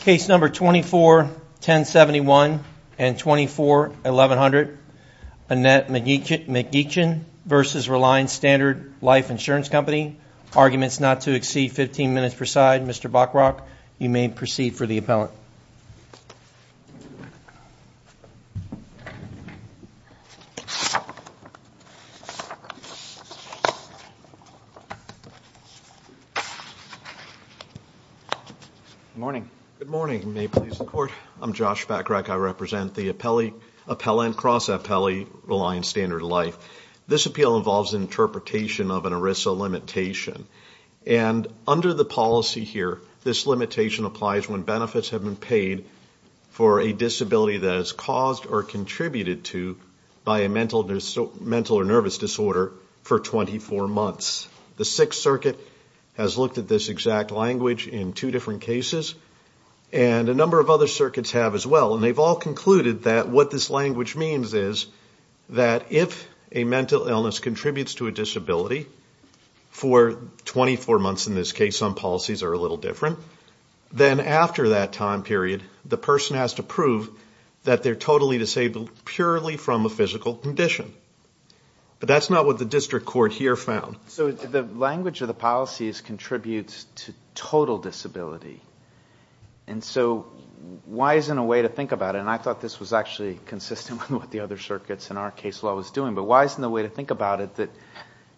Case number 24-1071 and 24-1100, Annette McEachin v. Reliance Standard Life Insurance Company. Arguments not to exceed 15 minutes per side. Mr. Bockrock, you may proceed for the appellant. Good morning. Good morning. May it please the Court. I'm Josh Bockrock. I represent the appellant, cross-appellant Reliance Standard Life. This appeal involves interpretation of an ERISA limitation. And under the policy here, this limitation applies when benefits have been paid for a disability that is caused or contributed to by a mental or nervous disorder for 24 months. The Sixth Circuit has looked at this exact language in two different cases. And a number of other circuits have as well. And they've all concluded that what this language means is that if a mental illness contributes to a disability for 24 months in this case, some policies are a little different, then after that time period, the person has to prove that they're totally disabled purely from a physical condition. But that's not what the district court here found. So the language of the policies contributes to total disability. And so why isn't a way to think about it, and I thought this was actually consistent with what the other circuits in our case law was doing, but why isn't there a way to think about it that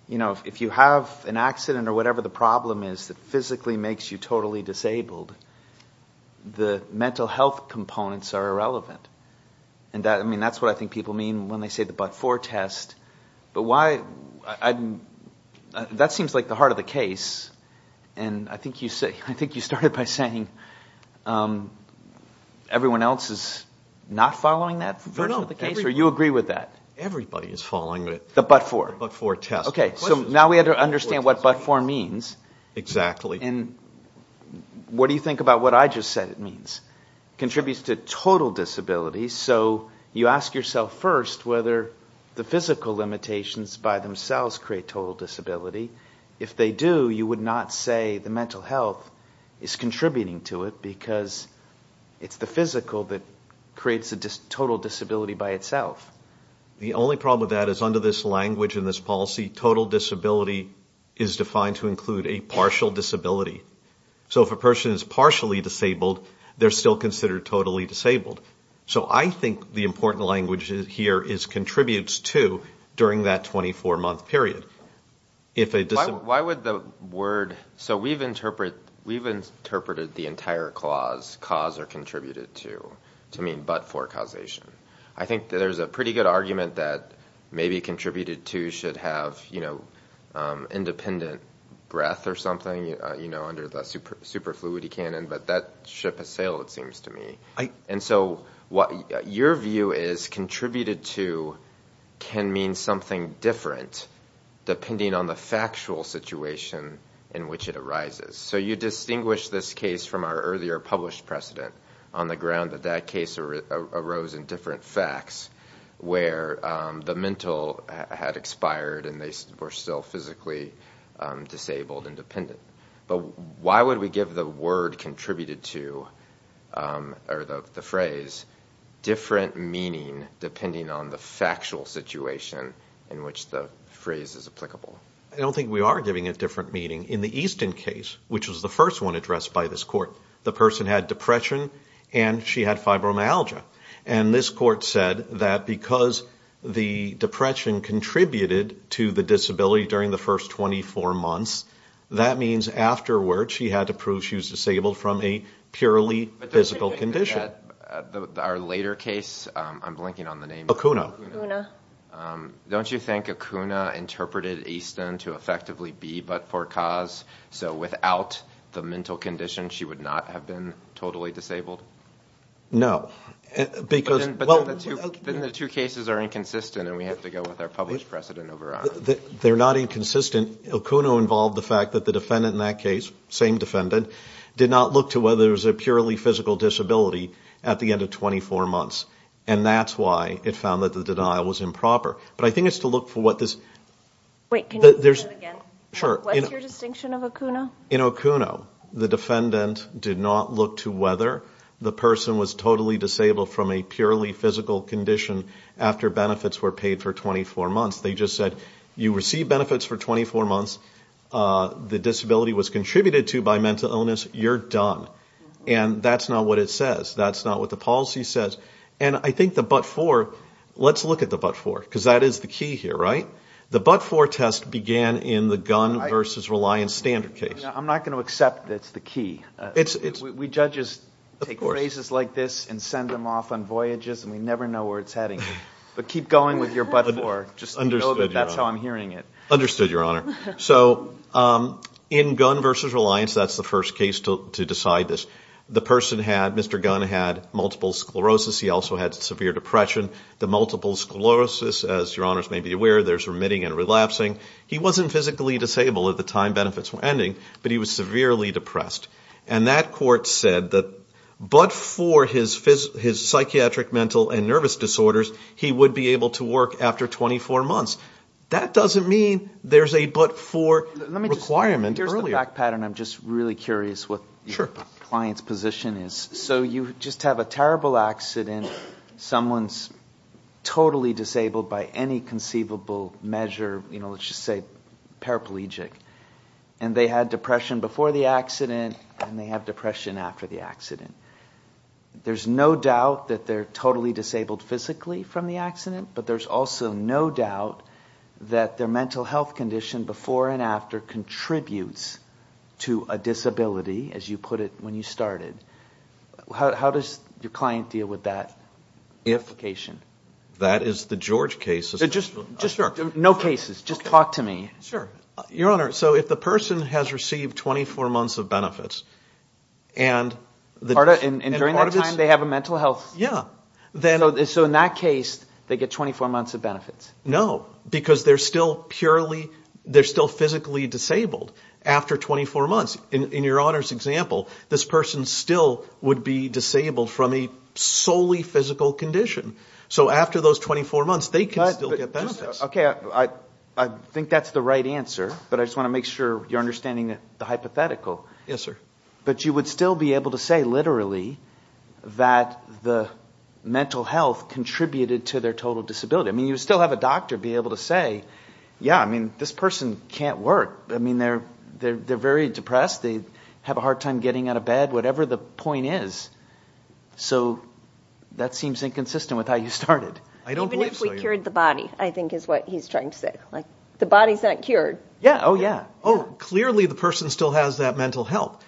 if you have an accident or whatever the problem is that physically makes you totally disabled, the mental health components are irrelevant. And that's what I think people mean when they say the but-for test. But that seems like the heart of the case. And I think you started by saying everyone else is not following that version of the case? Or you agree with that? Everybody is following it. The but-for? The but-for test. Okay, so now we have to understand what but-for means. Exactly. And what do you think about what I just said it means? Contributes to total disability. So you ask yourself first whether the physical limitations by themselves create total disability. If they do, you would not say the mental health is contributing to it because it's the physical that creates the total disability by itself. The only problem with that is under this language and this policy, total disability is defined to include a partial disability. So if a person is partially disabled, they're still considered totally disabled. So I think the important language here is contributes to during that 24-month period. Why would the word – so we've interpreted the entire clause, cause or contributed to, to mean but-for causation. I think there's a pretty good argument that maybe contributed to should have independent breath or something under the superfluity canon, but that ship has sailed it seems to me. And so your view is contributed to can mean something different depending on the factual situation in which it arises. So you distinguish this case from our earlier published precedent on the ground that that case arose in different facts where the mental had expired and they were still physically disabled and dependent. But why would we give the word contributed to or the phrase different meaning depending on the factual situation in which the phrase is applicable? I don't think we are giving it different meaning. In the Easton case, which was the first one addressed by this court, the person had depression and she had fibromyalgia. And this court said that because the depression contributed to the disability during the first 24 months, that means afterward she had to prove she was disabled from a purely physical condition. I'm looking at our later case. I'm blinking on the name. Okuna. Don't you think Okuna interpreted Easton to effectively be but-for-cause, so without the mental condition she would not have been totally disabled? No. But then the two cases are inconsistent and we have to go with our published precedent. They're not inconsistent. Okuna involved the fact that the defendant in that case, same defendant, did not look to whether there was a purely physical disability at the end of 24 months. And that's why it found that the denial was improper. But I think it's to look for what this- Wait, can you repeat that again? Sure. What's your distinction of Okuna? In Okuna, the defendant did not look to whether the person was totally disabled from a purely physical condition after benefits were paid for 24 months. They just said, you received benefits for 24 months. The disability was contributed to by mental illness. You're done. And that's not what it says. That's not what the policy says. And I think the but-for, let's look at the but-for, because that is the key here, right? The but-for test began in the Gunn v. Reliance standard case. I'm not going to accept that's the key. We judges take phrases like this and send them off on voyages and we never know where it's heading. But keep going with your but-for. Understood, Your Honor. That's how I'm hearing it. Understood, Your Honor. So in Gunn v. Reliance, that's the first case to decide this. The person had, Mr. Gunn had multiple sclerosis. He also had severe depression. The multiple sclerosis, as Your Honors may be aware, there's remitting and relapsing. He wasn't physically disabled at the time benefits were ending, but he was severely depressed. And that court said that but-for his psychiatric mental and nervous disorders, he would be able to work after 24 months. That doesn't mean there's a but-for requirement earlier. I'm just really curious what your client's position is. So you just have a terrible accident. Someone's totally disabled by any conceivable measure, you know, let's just say paraplegic. And they had depression before the accident and they have depression after the accident. There's no doubt that they're totally disabled physically from the accident, but there's also no doubt that their mental health condition before and after contributes to a disability, as you put it when you started. How does your client deal with that? That is the George case. No cases. Just talk to me. Sure. Your Honor, so if the person has received 24 months of benefits and part of it's... And during that time, they have a mental health... Yeah. So in that case, they get 24 months of benefits. No, because they're still physically disabled after 24 months. In Your Honor's example, this person still would be disabled from a solely physical condition. So after those 24 months, they can still get benefits. Okay. I think that's the right answer, but I just want to make sure you're understanding the hypothetical. Yes, sir. But you would still be able to say literally that the mental health contributed to their total disability. I mean, you still have a doctor be able to say, yeah, I mean, this person can't work. I mean, they're very depressed. They have a hard time getting out of bed, whatever the point is. So that seems inconsistent with how you started. Even if we cured the body, I think is what he's trying to say. Like the body's not cured. Yeah. Oh, yeah. Oh, clearly the person still has that mental health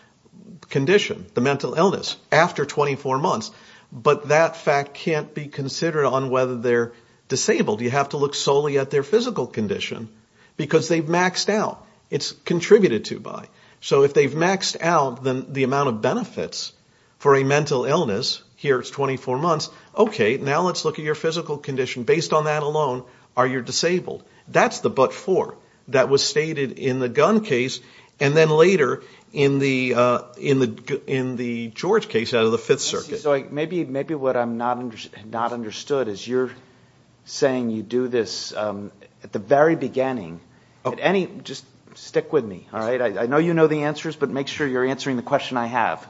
condition, the mental illness after 24 months, but that fact can't be considered on whether they're disabled. You have to look solely at their physical condition because they've maxed out. It's contributed to by. So if they've maxed out the amount of benefits for a mental illness, here it's 24 months. Okay. Now let's look at your physical condition. Based on that alone, are you disabled? That's the but for. That was stated in the Gunn case and then later in the George case out of the Fifth Circuit. Maybe what I'm not understood is you're saying you do this at the very beginning. Just stick with me. All right. I know you know the answers, but make sure you're answering the question I have.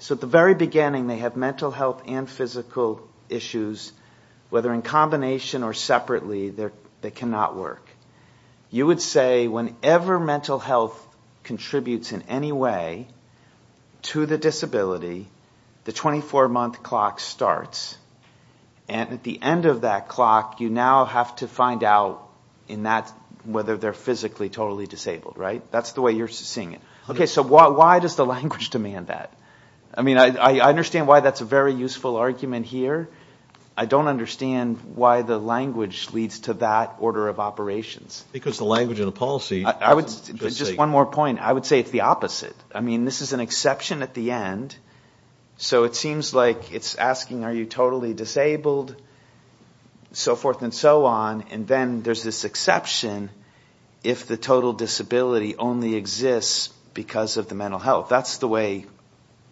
So at the very beginning, they have mental health and physical issues, whether in combination or separately, that cannot work. You would say whenever mental health contributes in any way to the disability, the 24-month clock starts. And at the end of that clock, you now have to find out in that whether they're physically totally disabled, right? That's the way you're seeing it. Okay. So why does the language demand that? I mean, I understand why that's a very useful argument here. I don't understand why the language leads to that order of operations. Just one more point. I would say it's the opposite. I mean, this is an exception at the end. So it seems like it's asking, are you totally disabled? So forth and so on. And then there's this exception if the total disability only exists because of the mental health. That's the way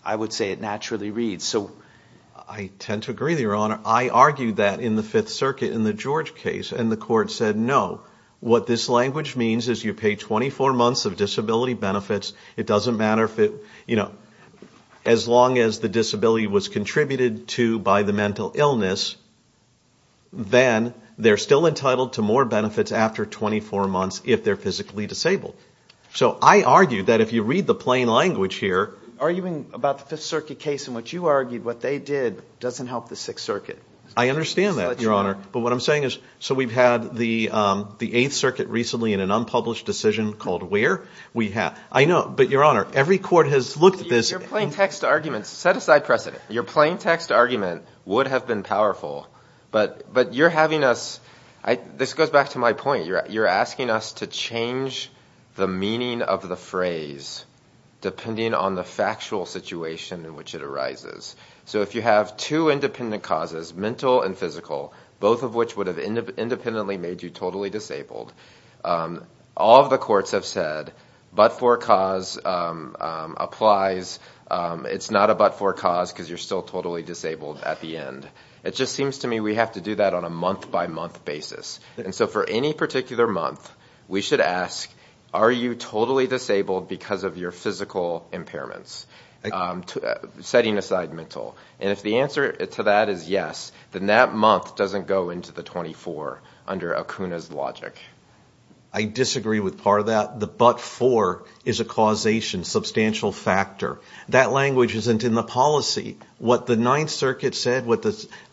I would say it naturally reads. I tend to agree, Your Honor. I argued that in the Fifth Circuit in the George case, and the court said no. What this language means is you pay 24 months of disability benefits. It doesn't matter if it, you know, as long as the disability was contributed to by the mental illness, then they're still entitled to more benefits after 24 months if they're physically disabled. So I argue that if you read the plain language here... Arguing about the Fifth Circuit case in which you argued what they did doesn't help the Sixth Circuit. I understand that, Your Honor. But what I'm saying is, so we've had the Eighth Circuit recently in an unpublished decision called where? I know, but Your Honor, every court has looked at this... Set aside precedent. Your plain text argument would have been powerful, but you're having us... This goes back to my point. You're asking us to change the meaning of the phrase depending on the factual situation in which it arises. So if you have two independent causes, mental and physical, both of which would have independently made you totally disabled, all of the courts have said, but for cause applies. It's not a but for cause because you're still totally disabled at the end. It just seems to me we have to do that on a month-by-month basis. And so for any particular month, we should ask, are you totally disabled because of your physical impairments? Setting aside mental. And if the answer to that is yes, then that month doesn't go into the 24 under Acuna's logic. I disagree with part of that. The but for is a causation, substantial factor. That language isn't in the policy. What the Ninth Circuit said,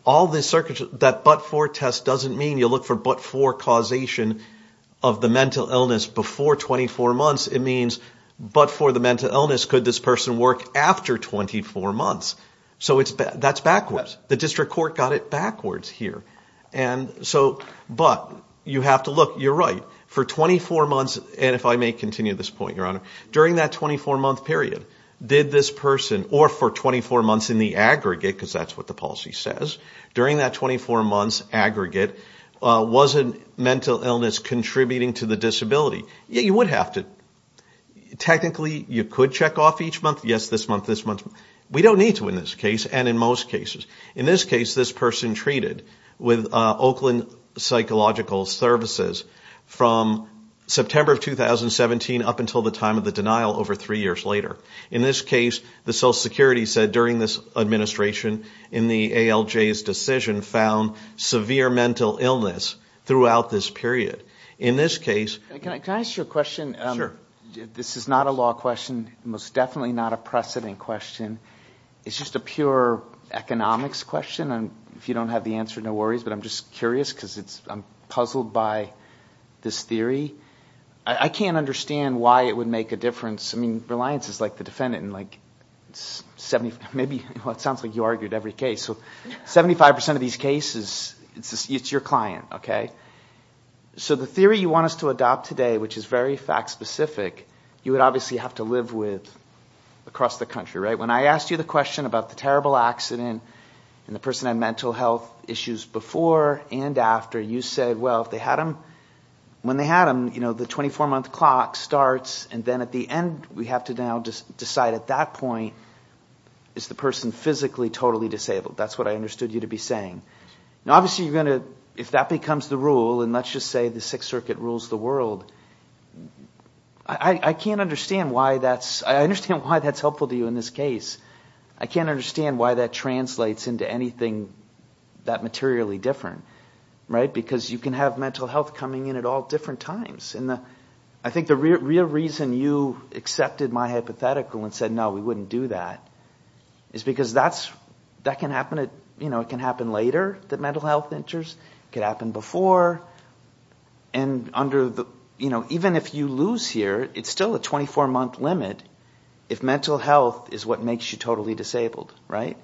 all the circuits... That but for test doesn't mean you look for but for causation of the mental illness before 24 months. It means, but for the mental illness, could this person work after 24 months? So that's backwards. The district court got it backwards here. But you have to look. You're right. For 24 months, and if I may continue this point, Your Honor, during that 24-month period, did this person, or for 24 months in the aggregate, because that's what the policy says, during that 24 months aggregate, was a mental illness contributing to the disability? Yeah, you would have to. Technically, you could check off each month. Yes, this month, this month. We don't need to in this case, and in most cases. In this case, this person treated with Oakland Psychological Services from September of 2017 up until the time of the denial over three years later. In this case, the Social Security said during this administration, in the ALJ's decision, found severe mental illness throughout this period. In this case... Your Honor, can I ask you a question? This is not a law question, most definitely not a precedent question. It's just a pure economics question. If you don't have the answer, no worries, but I'm just curious because I'm puzzled by this theory. I can't understand why it would make a difference. I mean, Reliance is like the defendant in like 70, maybe, well, it sounds like you argued every case, so 75% of these cases, it's your client, okay? So the theory you want us to adopt today, which is very fact-specific, you would obviously have to live with across the country, right? When I asked you the question about the terrible accident and the person had mental health issues before and after, you said, well, when they had them, the 24-month clock starts, and then at the end, we have to now decide at that point, is the person physically totally disabled? That's what I understood you to be saying. Now, obviously, you're going to, if that becomes the rule, and let's just say the Sixth Circuit rules the world, I can't understand why that's, I understand why that's helpful to you in this case. I can't understand why that translates into anything that materially different, right? Because you can have mental health coming in at all different times, and I think the real reason you accepted my hypothetical and said, no, we wouldn't do that, is because that can happen later, that mental health can happen before, and even if you lose here, it's still a 24-month limit. If mental health is what makes you totally disabled, right?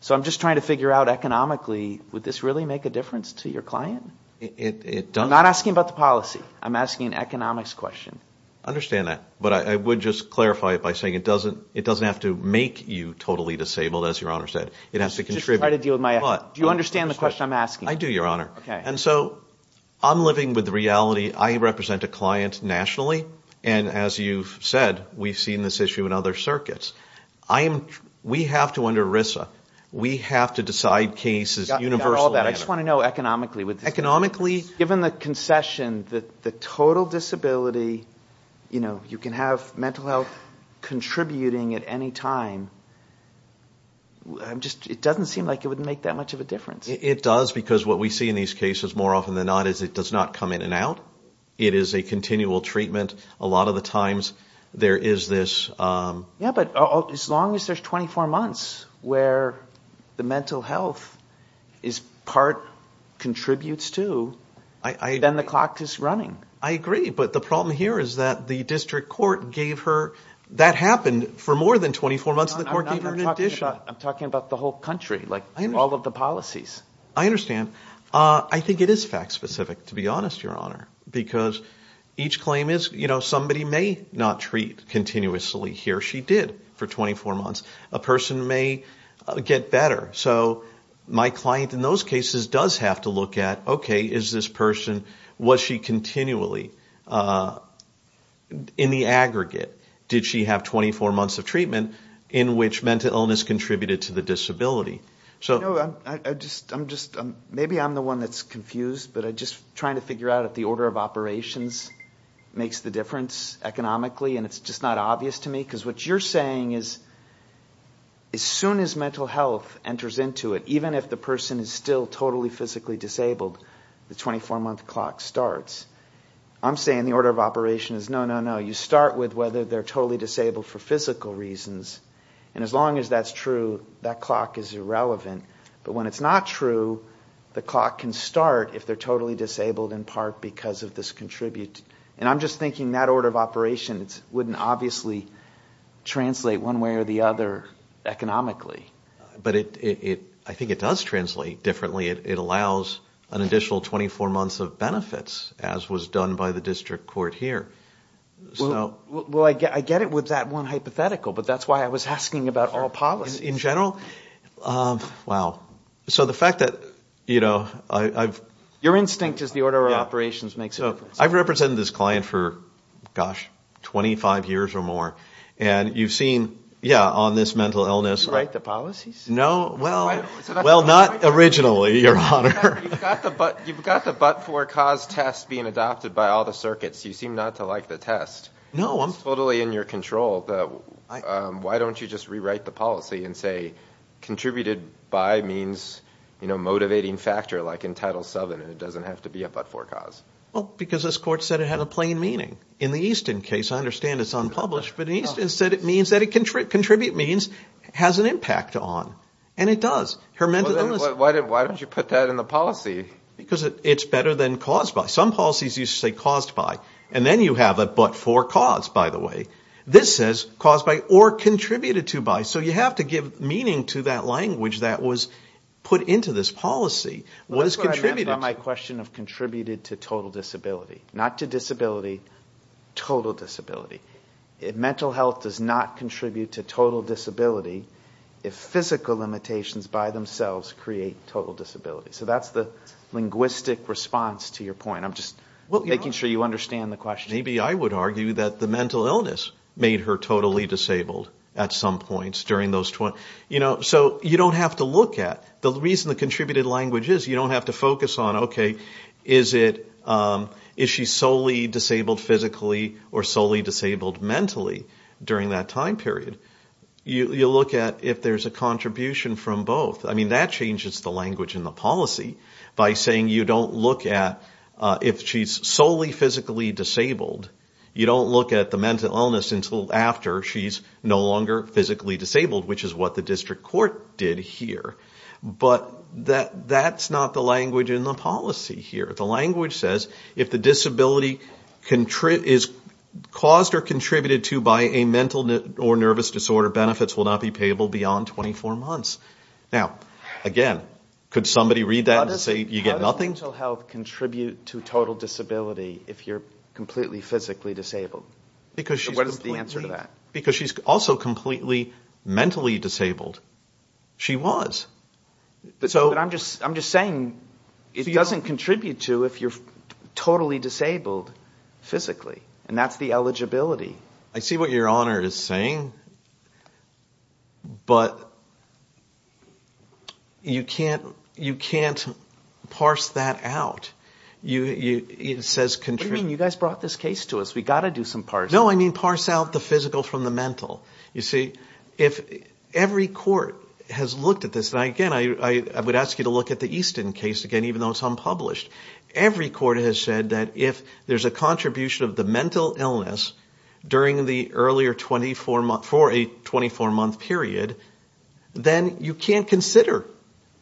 So I'm just trying to figure out economically, would this really make a difference to your client? I'm not asking about the policy. I'm asking an economics question. I understand that, but I would just clarify it by saying it doesn't have to make you totally disabled, as Your Honor said. It has to contribute. Do you understand the question I'm asking? I do, Your Honor, and so I'm living with reality. I represent a client nationally, and as you've said, we've seen this issue in other circuits. We have to, under RISA, we have to decide cases universally. I just want to know economically. Economically? Given the concession that the total disability, you know, you can have mental health contributing at any time, it doesn't seem like it would make that much of a difference. It does, because what we see in these cases, more often than not, is it does not come in and out. It is a continual treatment. A lot of the times, there is this... Yeah, but as long as there's 24 months where the mental health is part, contributes to, then the clock is running. I agree, but the problem here is that the district court gave her, that happened for more than 24 months, the court gave her an addition. I'm talking about the whole country, like all of the policies. I understand. I think it is fact-specific, to be honest, Your Honor, because each claim is, you know, somebody may not treat continuously. Here, she did for 24 months. A person may get better. So my client in those cases does have to look at, okay, is this person, was she continually, in the aggregate, did she have 24 months of treatment in which mental illness contributed to the disability? Maybe I'm the one that's confused, but I'm just trying to figure out if the order of operations makes the difference economically, and it's just not obvious to me. Because what you're saying is, as soon as mental health enters into it, even if the person is still totally physically disabled, the 24-month clock starts. I'm saying the order of operations is, no, no, no, you start with whether they're totally disabled for physical reasons, and as long as that's true, that clock is irrelevant. But when it's not true, the clock can start if they're totally disabled in part because of this contribute. And I'm just thinking that order of operations wouldn't obviously translate one way or the other economically. But I think it does translate differently. It allows an additional 24 months of benefits, as was done by the district court here. Well, I get it with that one hypothetical, but that's why I was asking about all policies. In general? Wow. So the fact that, you know, I've... Your instinct is the order of operations makes a difference. I've represented this client for, gosh, 25 years or more, and you've seen, yeah, on this mental illness... Rewrite the policies? No, well, not originally, Your Honor. You've got the but-for-cause test being adopted by all the circuits. You seem not to like the test. No, I'm... It's totally in your control. Why don't you just rewrite the policy and say, contributed by means, you know, motivating factor, like in Title VII, and it doesn't have to be a but-for-cause. Well, because this court said it had a plain meaning. In the Easton case, I understand it's unpublished, but Easton said it means that it... Contribute means has an impact on, and it does. Her mental illness... Why don't you put that in the policy? Because it's better than caused by. Some policies used to say caused by, and then you have a but-for-cause, by the way. This says caused by or contributed to by, so you have to give meaning to that language that was put into this policy. That's what I meant by my question of contributed to total disability. Not to disability, total disability. Mental health does not contribute to total disability if physical limitations by themselves create total disability. So that's the linguistic response to your point. I'm just making sure you understand the question. Maybe I would argue that the mental illness made her totally disabled at some points during those... So you don't have to look at... The reason the contributed language is you don't have to focus on, okay, is it... Is she solely disabled physically or solely disabled mentally during that time period? You look at if there's a contribution from both. I mean, that changes the language in the policy by saying you don't look at... If she's solely physically disabled, you don't look at the mental illness until after she's no longer physically disabled, which is what the district court did here. But that's not the language in the policy here. The language says if the disability is caused or contributed to by a mental or nervous disorder, benefits will not be payable beyond 24 months. Now, again, could somebody read that and say you get nothing? How does mental health contribute to total disability if you're completely physically disabled? What is the answer to that? Because she's also completely mentally disabled. She was. But I'm just saying it doesn't contribute to if you're totally disabled physically, and that's the eligibility. I see what your honor is saying, but you can't parse that out. It says contribute... What do you mean? You guys brought this case to us. We've got to do some parsing. No, I mean parse out the physical from the mental. You see, if every court has looked at this... And again, I would ask you to look at the Easton case again, even though it's unpublished. Every court has said that if there's a contribution of the mental illness during the earlier 24 months, for a 24-month period, then you can't consider.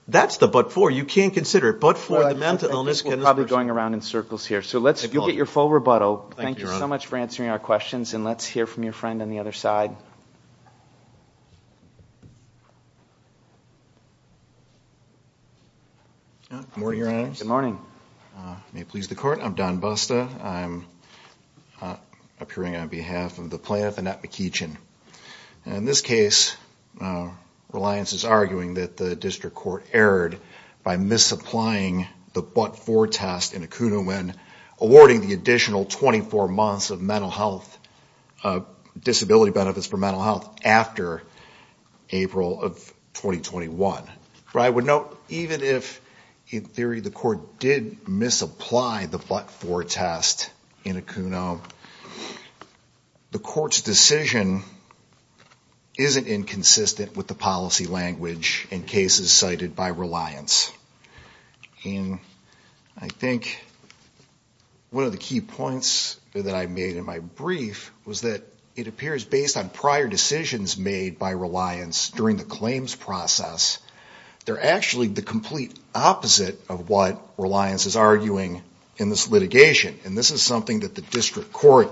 That's the but for. You can't consider it but for the mental illness. We're probably going around in circles here, so you'll get your full rebuttal. Thank you so much for answering our questions, and let's hear from your friend on the other side. Good morning, your honors. Good morning. May it please the court, I'm Don Busta. I'm appearing on behalf of the plaintiff, Annette McEachin. In this case, Reliance is arguing that the district court erred by misapplying the but-for test in Acuno when awarding the additional 24 months of disability benefits for mental health after April of 2021. I would note, even if, in theory, the court did misapply the but-for test in Acuno, the court's decision isn't inconsistent with the policy language in cases cited by Reliance. I think one of the key points that I made in my brief was that it appears, based on prior decisions made by Reliance during the claims process, they're actually the complete opposite of what Reliance is arguing in this litigation. And this is something that the district court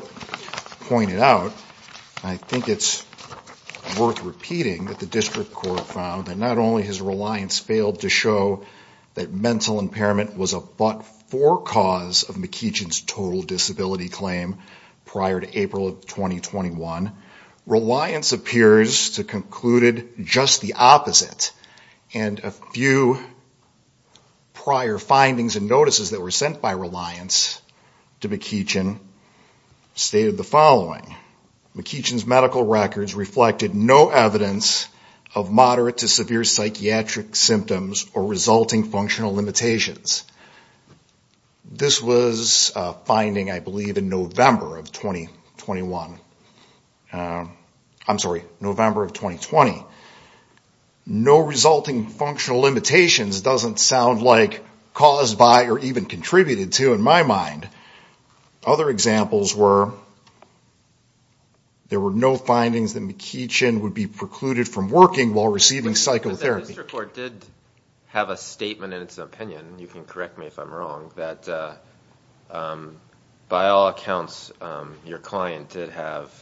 pointed out. I think it's worth repeating that the district court found that not only has Reliance failed to show that mental impairment was a but-for cause of McEachin's total disability claim prior to April of 2021, Reliance appears to have concluded just the opposite. And a few prior findings and notices that were sent by Reliance to McEachin stated the following. McEachin's medical records reflected no evidence of moderate to severe psychiatric symptoms or resulting functional limitations. This was a finding, I believe, in November of 2021. I'm sorry, November of 2020. No resulting functional limitations doesn't sound like caused by or even contributed to in my mind. Other examples were there were no findings that McEachin would be precluded from working while receiving psychotherapy. The district court did have a statement in its opinion, you can correct me if I'm wrong, that by all accounts your client did have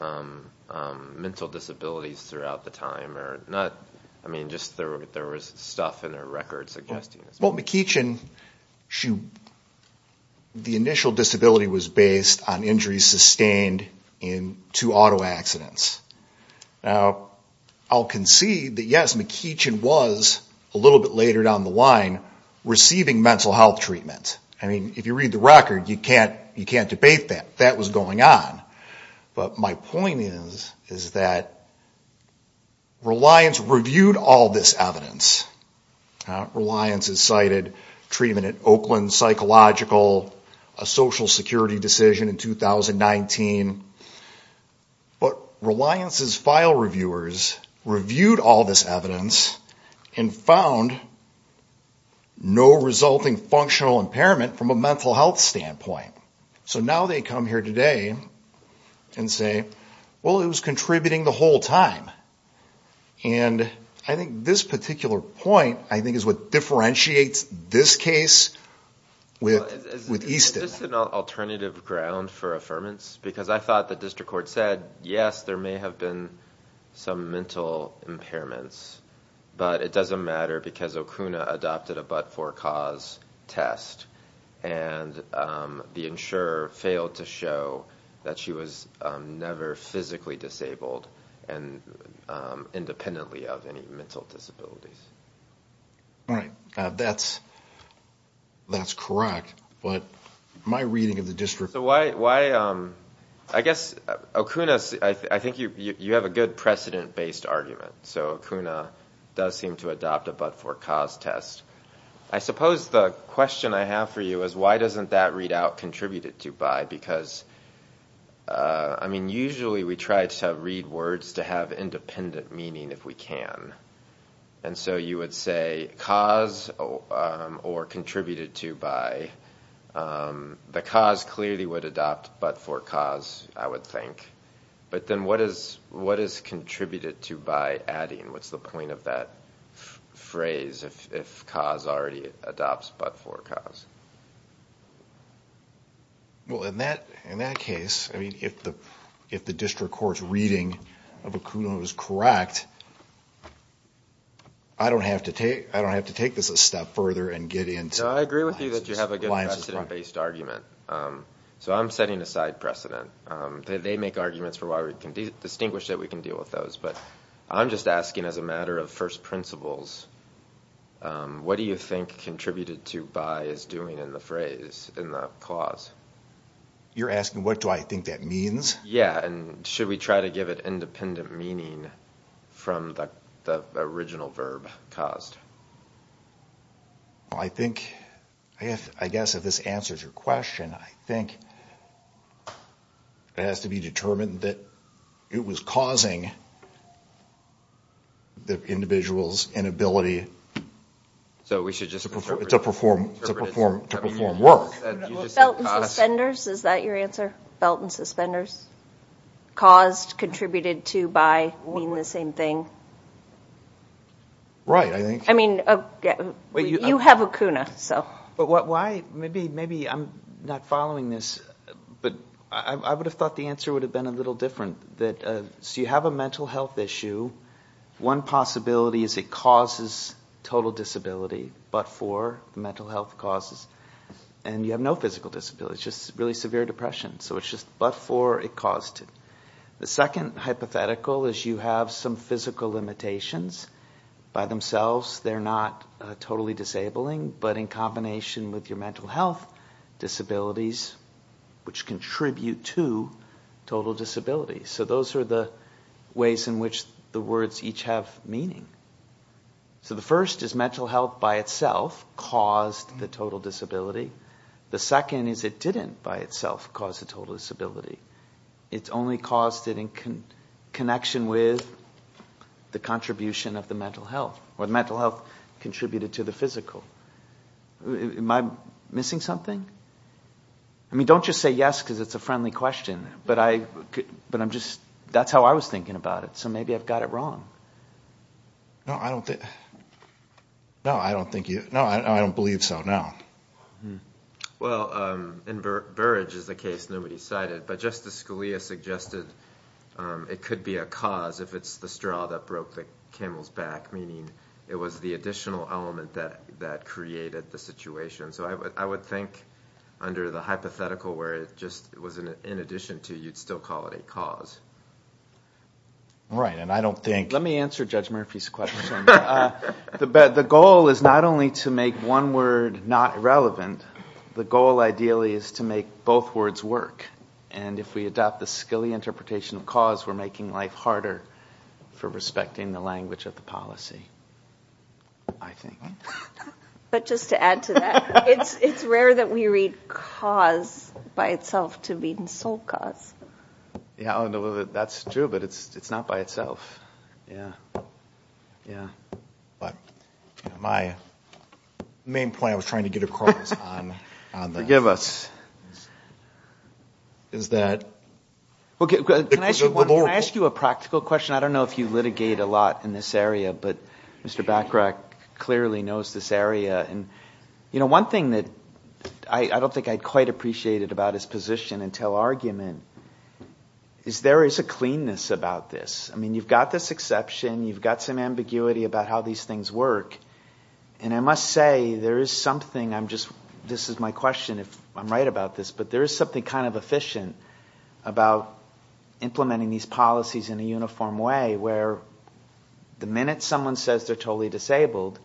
mental disabilities throughout the time. I mean just there was stuff in their records suggesting this. Well McEachin, the initial disability was based on injuries sustained in two auto accidents. Now I'll concede that yes McEachin was a little bit later down the line receiving mental health treatment. I mean if you read the record you can't debate that. That was going on. But my point is that Reliance reviewed all this evidence. Reliance has cited treatment at Oakland Psychological, a social security decision in 2019. But Reliance's file reviewers reviewed all this evidence and found no resulting functional impairment from a mental health standpoint. So now they come here today and say well it was contributing the whole time. And I think this particular point I think is what differentiates this case with Easton. Is this an alternative ground for affirmance? Because I thought the district court said yes there may have been some mental impairments. But it doesn't matter because Okuna adopted a but-for-cause test. And the insurer failed to show that she was never physically disabled independently of any mental disabilities. Right. That's correct. But my reading of the district... So why, I guess Okuna, I think you have a good precedent-based argument. So Okuna does seem to adopt a but-for-cause test. I suppose the question I have for you is why doesn't that readout contributed to by? Because I mean usually we try to read words to have independent meaning if we can. And so you would say cause or contributed to by. The cause clearly would adopt but-for-cause I would think. But then what is contributed to by adding? What's the point of that phrase if cause already adopts but-for-cause? Well in that case, I mean if the district court's reading of Okuna was correct, I don't have to take this a step further and get into... No, I agree with you that you have a good precedent-based argument. So I'm setting a side precedent. They make arguments for why we can distinguish that we can deal with those. But I'm just asking as a matter of first principles, what do you think contributed to by is doing in the phrase, in the clause? You're asking what do I think that means? Yeah, and should we try to give it independent meaning from the original verb caused? Well I think, I guess if this answers your question, I think it has to be determined that it was causing the individual's inability to perform work. Belt and suspenders, is that your answer? Belt and suspenders? Caused, contributed to by, mean the same thing? Right, I think. I mean, you have Okuna, so. But why, maybe I'm not following this, but I would have thought the answer would have been a little different. So you have a mental health issue. One possibility is it causes total disability, but for mental health causes. And you have no physical disability, it's just really severe depression. So it's just but for, it caused it. The second hypothetical is you have some physical limitations. By themselves, they're not totally disabling, but in combination with your mental health disabilities, which contribute to total disability. So those are the ways in which the words each have meaning. So the first is mental health by itself caused the total disability. The second is it didn't by itself cause the total disability. It only caused it in connection with the contribution of the mental health, or the mental health contributed to the physical. Am I missing something? I mean, don't just say yes because it's a friendly question, but I could, but I'm just, that's how I was thinking about it. So maybe I've got it wrong. No, I don't think. No, I don't think you. No, I don't believe so now. Well, and Burrage is the case nobody cited, but Justice Scalia suggested it could be a cause if it's the straw that broke the camel's back, meaning it was the additional element that created the situation. So I would think under the hypothetical, where it just was in addition to, you'd still call it a cause. Right, and I don't think. Let me answer Judge Murphy's question. The goal is not only to make one word not relevant. The goal ideally is to make both words work. And if we adopt the skilly interpretation of cause, we're making life harder for respecting the language of the policy, I think. But just to add to that, it's rare that we read cause by itself to mean sole cause. Yeah, that's true, but it's not by itself. Yeah, yeah. But my main point I was trying to get across on that. Forgive us. Is that. Can I ask you a practical question? I don't know if you litigate a lot in this area, but Mr. Bacharach clearly knows this area. And one thing that I don't think I'd quite appreciate about his position until argument, is there is a cleanness about this. I mean, you've got this exception. You've got some ambiguity about how these things work. And I must say, there is something. This is my question if I'm right about this. But there is something kind of efficient about implementing these policies in a uniform way where the minute someone says they're totally disabled,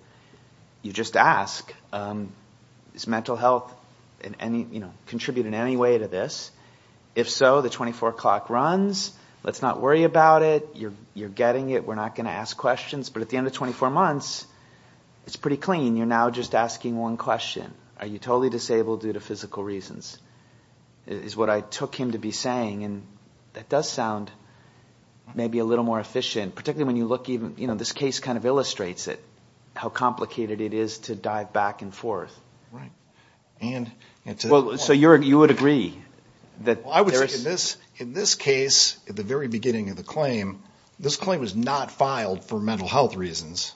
you just ask, does mental health contribute in any way to this? If so, the 24 o'clock runs. Let's not worry about it. You're getting it. We're not going to ask questions. But at the end of 24 months, it's pretty clean. You're now just asking one question. Are you totally disabled due to physical reasons? Is what I took him to be saying. And that does sound maybe a little more efficient, particularly when you look even, this case kind of illustrates it, how complicated it is to dive back and forth. Right. So you would agree? I would say in this case, at the very beginning of the claim, this claim was not filed for mental health reasons.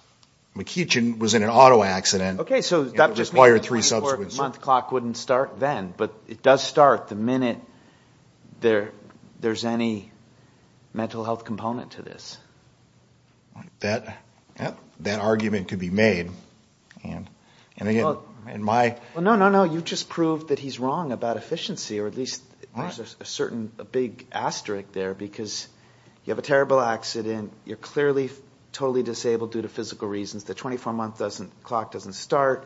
McEachin was in an auto accident. Okay, so that just means the 24 month clock wouldn't start then. But it does start the minute there's any mental health component to this. That argument could be made. And again, in my... No, no, no. You just proved that he's wrong about efficiency, or at least there's a big asterisk there. Because you have a terrible accident. You're clearly totally disabled due to physical reasons. The 24 month clock doesn't start.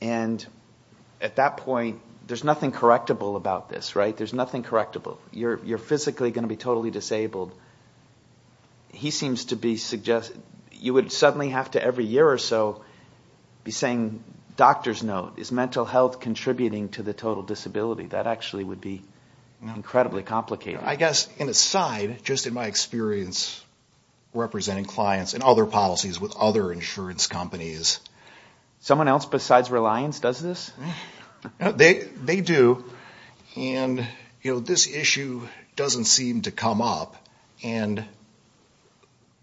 And at that point, there's nothing correctable about this, right? There's nothing correctable. You're physically going to be totally disabled. He seems to be suggesting... You would suddenly have to, every year or so, be saying, doctor's note, is mental health contributing to the total disability? That actually would be incredibly complicated. I guess, in a side, just in my experience representing clients and other policies with other insurance companies... Someone else besides Reliance does this? They do. And this issue doesn't seem to come up. And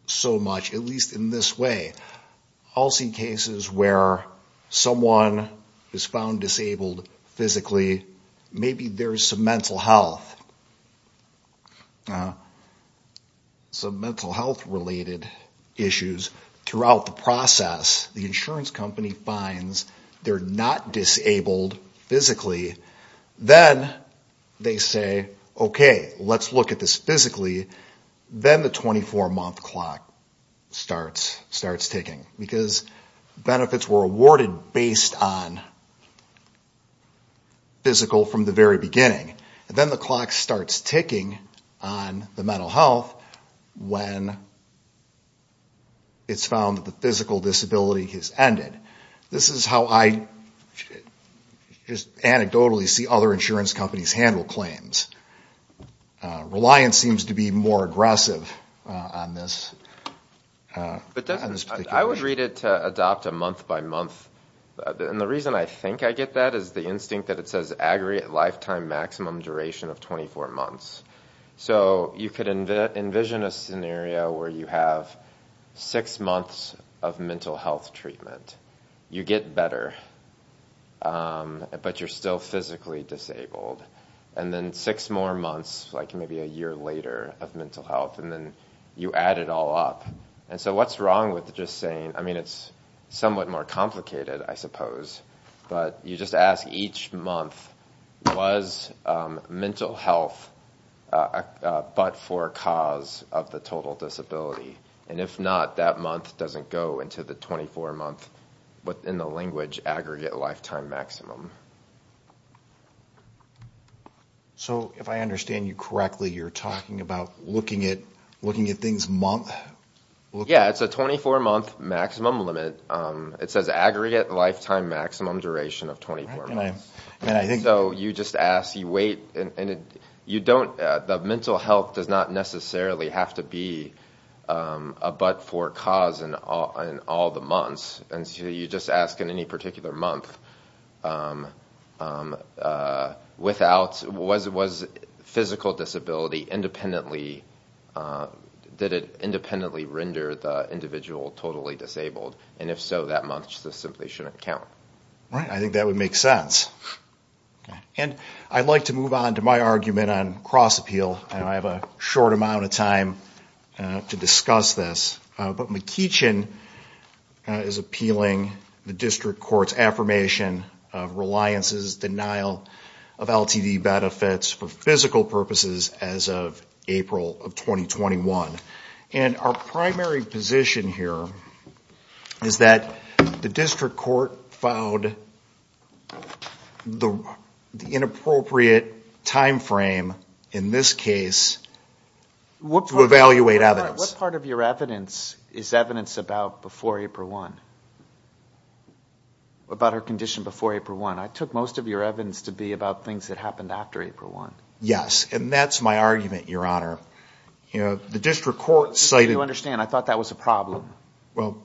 so much, at least in this way. I'll see cases where someone is found disabled physically. Maybe there's some mental health. Some mental health related issues. Throughout the process, the insurance company finds they're not disabled physically. Then, they say, okay, let's look at this physically. Then, the 24-month clock starts ticking. Because benefits were awarded based on physical from the very beginning. And then, the clock starts ticking on the mental health when it's found that the physical disability has ended. This is how I, just anecdotally, see other insurance companies handle claims. Reliance seems to be more aggressive on this particular issue. I would read it to adopt a month by month. And the reason I think I get that is the instinct that it says aggregate lifetime maximum duration of 24 months. So, you could envision a scenario where you have six months of mental health treatment. You get better. But, you're still physically disabled. And then, six more months, like maybe a year later of mental health. And then, you add it all up. And so, what's wrong with just saying, I mean, it's somewhat more complicated, I suppose. But, you just ask each month, was mental health but for cause of the total disability? And if not, that month doesn't go into the 24-month, within the language, aggregate lifetime maximum. So, if I understand you correctly, you're talking about looking at things month? Yeah, it's a 24-month maximum limit. It says aggregate lifetime maximum duration of 24 months. So, you just ask. The mental health does not necessarily have to be but for cause in all the months. And so, you just ask in any particular month without, was physical disability independently, did it independently render the individual totally disabled? And if so, that month just simply shouldn't count. Right, I think that would make sense. And, I'd like to move on to my argument on cross-appeal. I have a short amount of time to discuss this. But, McEachin is appealing the district court's affirmation of reliance's denial of LTD benefits for physical purposes as of April of 2021. And, our primary position here is that the district court filed the inappropriate time frame, in this case, to evaluate evidence. What part of your evidence is evidence about before April 1? About her condition before April 1. I took most of your evidence to be about things that happened after April 1. Yes, and that's my argument, your honor. You know, the district court cited... I thought that was a problem. Well,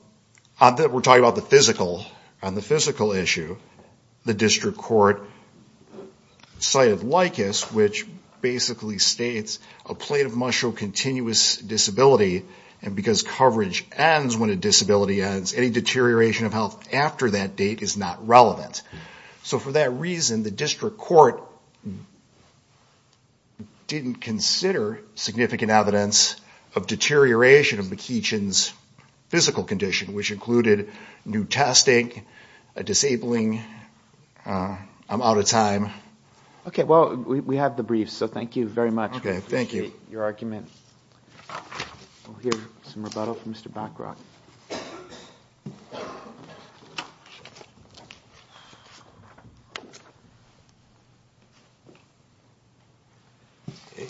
we're talking about the physical, on the physical issue. The district court cited LICAS, which basically states, a plaintiff must show continuous disability because coverage ends when a disability ends. And, deterioration of health after that date is not relevant. So, for that reason, the district court didn't consider significant evidence of deterioration of McEachin's physical condition, which included new testing, a disabling... I'm out of time. Okay, well, we have the briefs, so thank you very much. Okay, thank you. We appreciate your argument. We'll hear some rebuttal from Mr. Bachrach.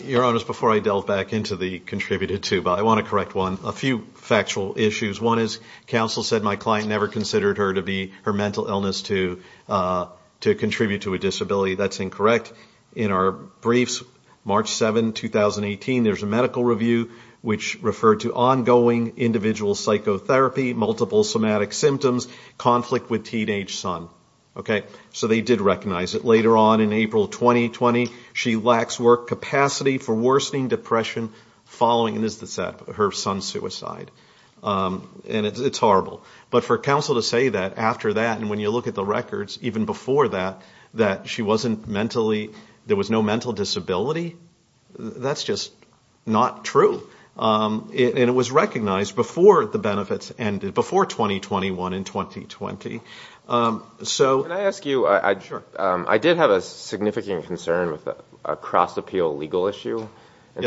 Your honors, before I delve back into the contributed to, but I want to correct a few factual issues. One is, counsel said my client never considered her to be her mental illness to contribute to a disability. That's incorrect. In our briefs, March 7, 2018, there's a medical review, which referred to ongoing individual psychotherapy, multiple somatic symptoms, conflict with teenage son. Okay, so they did recognize it. Later on, in April 2020, she lacks work capacity for worsening depression following her son's suicide. And, it's horrible. But, for counsel to say that after that, and when you look at the records, even before that, that she wasn't mentally, there was no mental disability, that's just not true. And, it was recognized before the benefits ended, before 2021 and 2020. Can I ask you, I did have a significant concern with a cross-appeal legal issue. I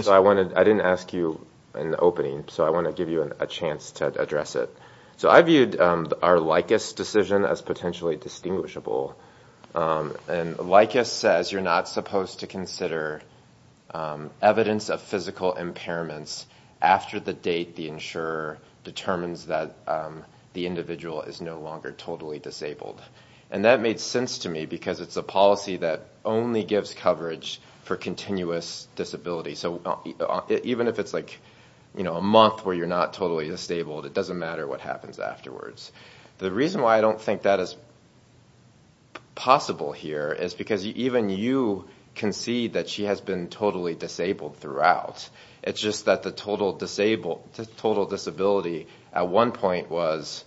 didn't ask you in the opening, so I want to give you a chance to address it. So, I viewed our LICAS decision as potentially distinguishable. And, LICAS says you're not supposed to consider evidence of physical impairments after the date the insurer determines that the individual is no longer totally disabled. And, that made sense to me because it's a policy that only gives coverage for continuous disability. So, even if it's like, you know, a month where you're not totally disabled, it doesn't matter what happens afterwards. The reason why I don't think that is possible here is because even you can see that she has been totally disabled throughout. It's just that the total disability at one point was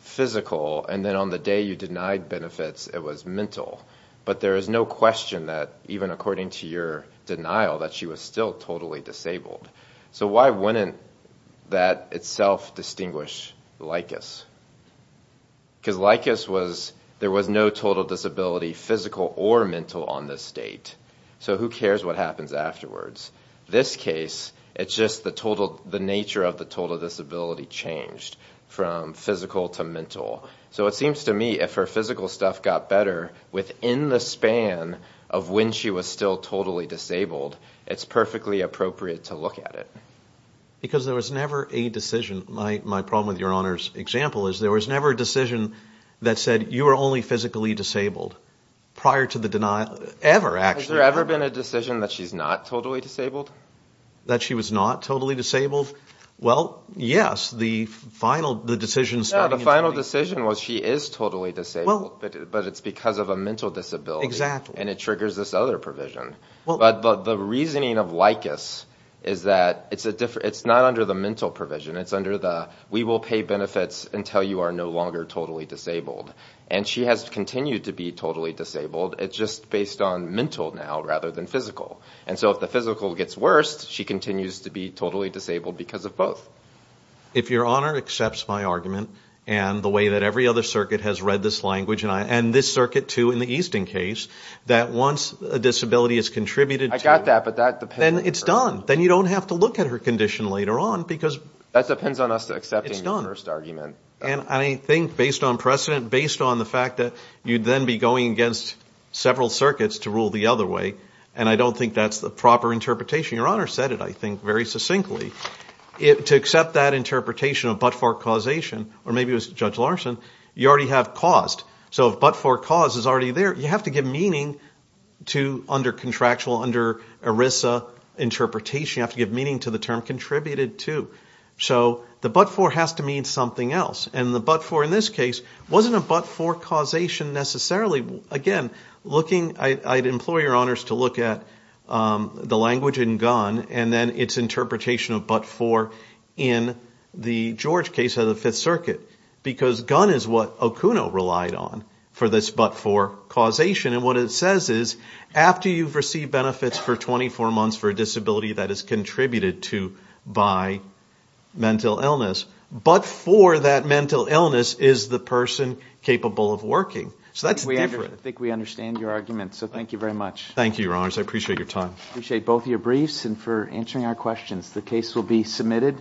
physical and then on the day you denied benefits, it was mental. But, there is no question that even according to your denial that she was still totally disabled. So, why wouldn't that itself distinguish LICAS? Because LICAS was, there was no total disability physical or mental on this date. So, who cares what happens afterwards? This case, it's just the total, the nature of the total disability changed from physical to mental. So, it seems to me if her physical stuff got better within the span of when she was still totally disabled, it's perfectly appropriate to look at it. Because there was never a decision, my problem with your Honor's example is there was never a decision that said you are only physically disabled prior to the denial, ever actually. Has there ever been a decision that she's not totally disabled? That she was not totally disabled? Well, yes. The final decision was she is totally disabled, but it's because of a mental disability and it triggers this other provision. But, the reasoning of LICAS is that it's not under the mental provision, it's under the, we will pay benefits until you are no longer totally disabled. And she has continued to be totally disabled, it's just based on mental now rather than physical. And so, if the physical gets worse, she continues to be totally disabled because of both. If your Honor accepts my argument and the way that every other circuit has read this language, and this circuit too in the Easton case, that once a disability is contributed to... I got that, but that depends... Then it's done. Then you don't have to look at her condition later on because it's done. That depends on us accepting the first argument. And I think based on precedent, based on the fact that you'd then be going against several circuits to rule the other way, and I don't think that's the proper interpretation. Your Honor said it, I think, very succinctly. To accept that interpretation of but-for causation, or maybe it was Judge Larson, you already have caused. So, if but-for cause is already there, you have to give meaning to under contractual, under ERISA interpretation, you have to give meaning to the term contributed to. So, the but-for has to mean something else. And the but-for in this case wasn't a but-for causation necessarily. Again, I'd implore your Honors to look at the language in Gunn and then its interpretation of but-for in the George case of the Fifth Circuit. Because Gunn is what Okuno relied on for this but-for causation. And what it says is, after you've received benefits for 24 months for a disability that is contributed to by mental illness, but-for that mental illness is the person capable of working. So, that's different. I think we understand your argument, so thank you very much. Thank you, Your Honors. I appreciate your time. I appreciate both your briefs and for answering our questions. The case will be submitted.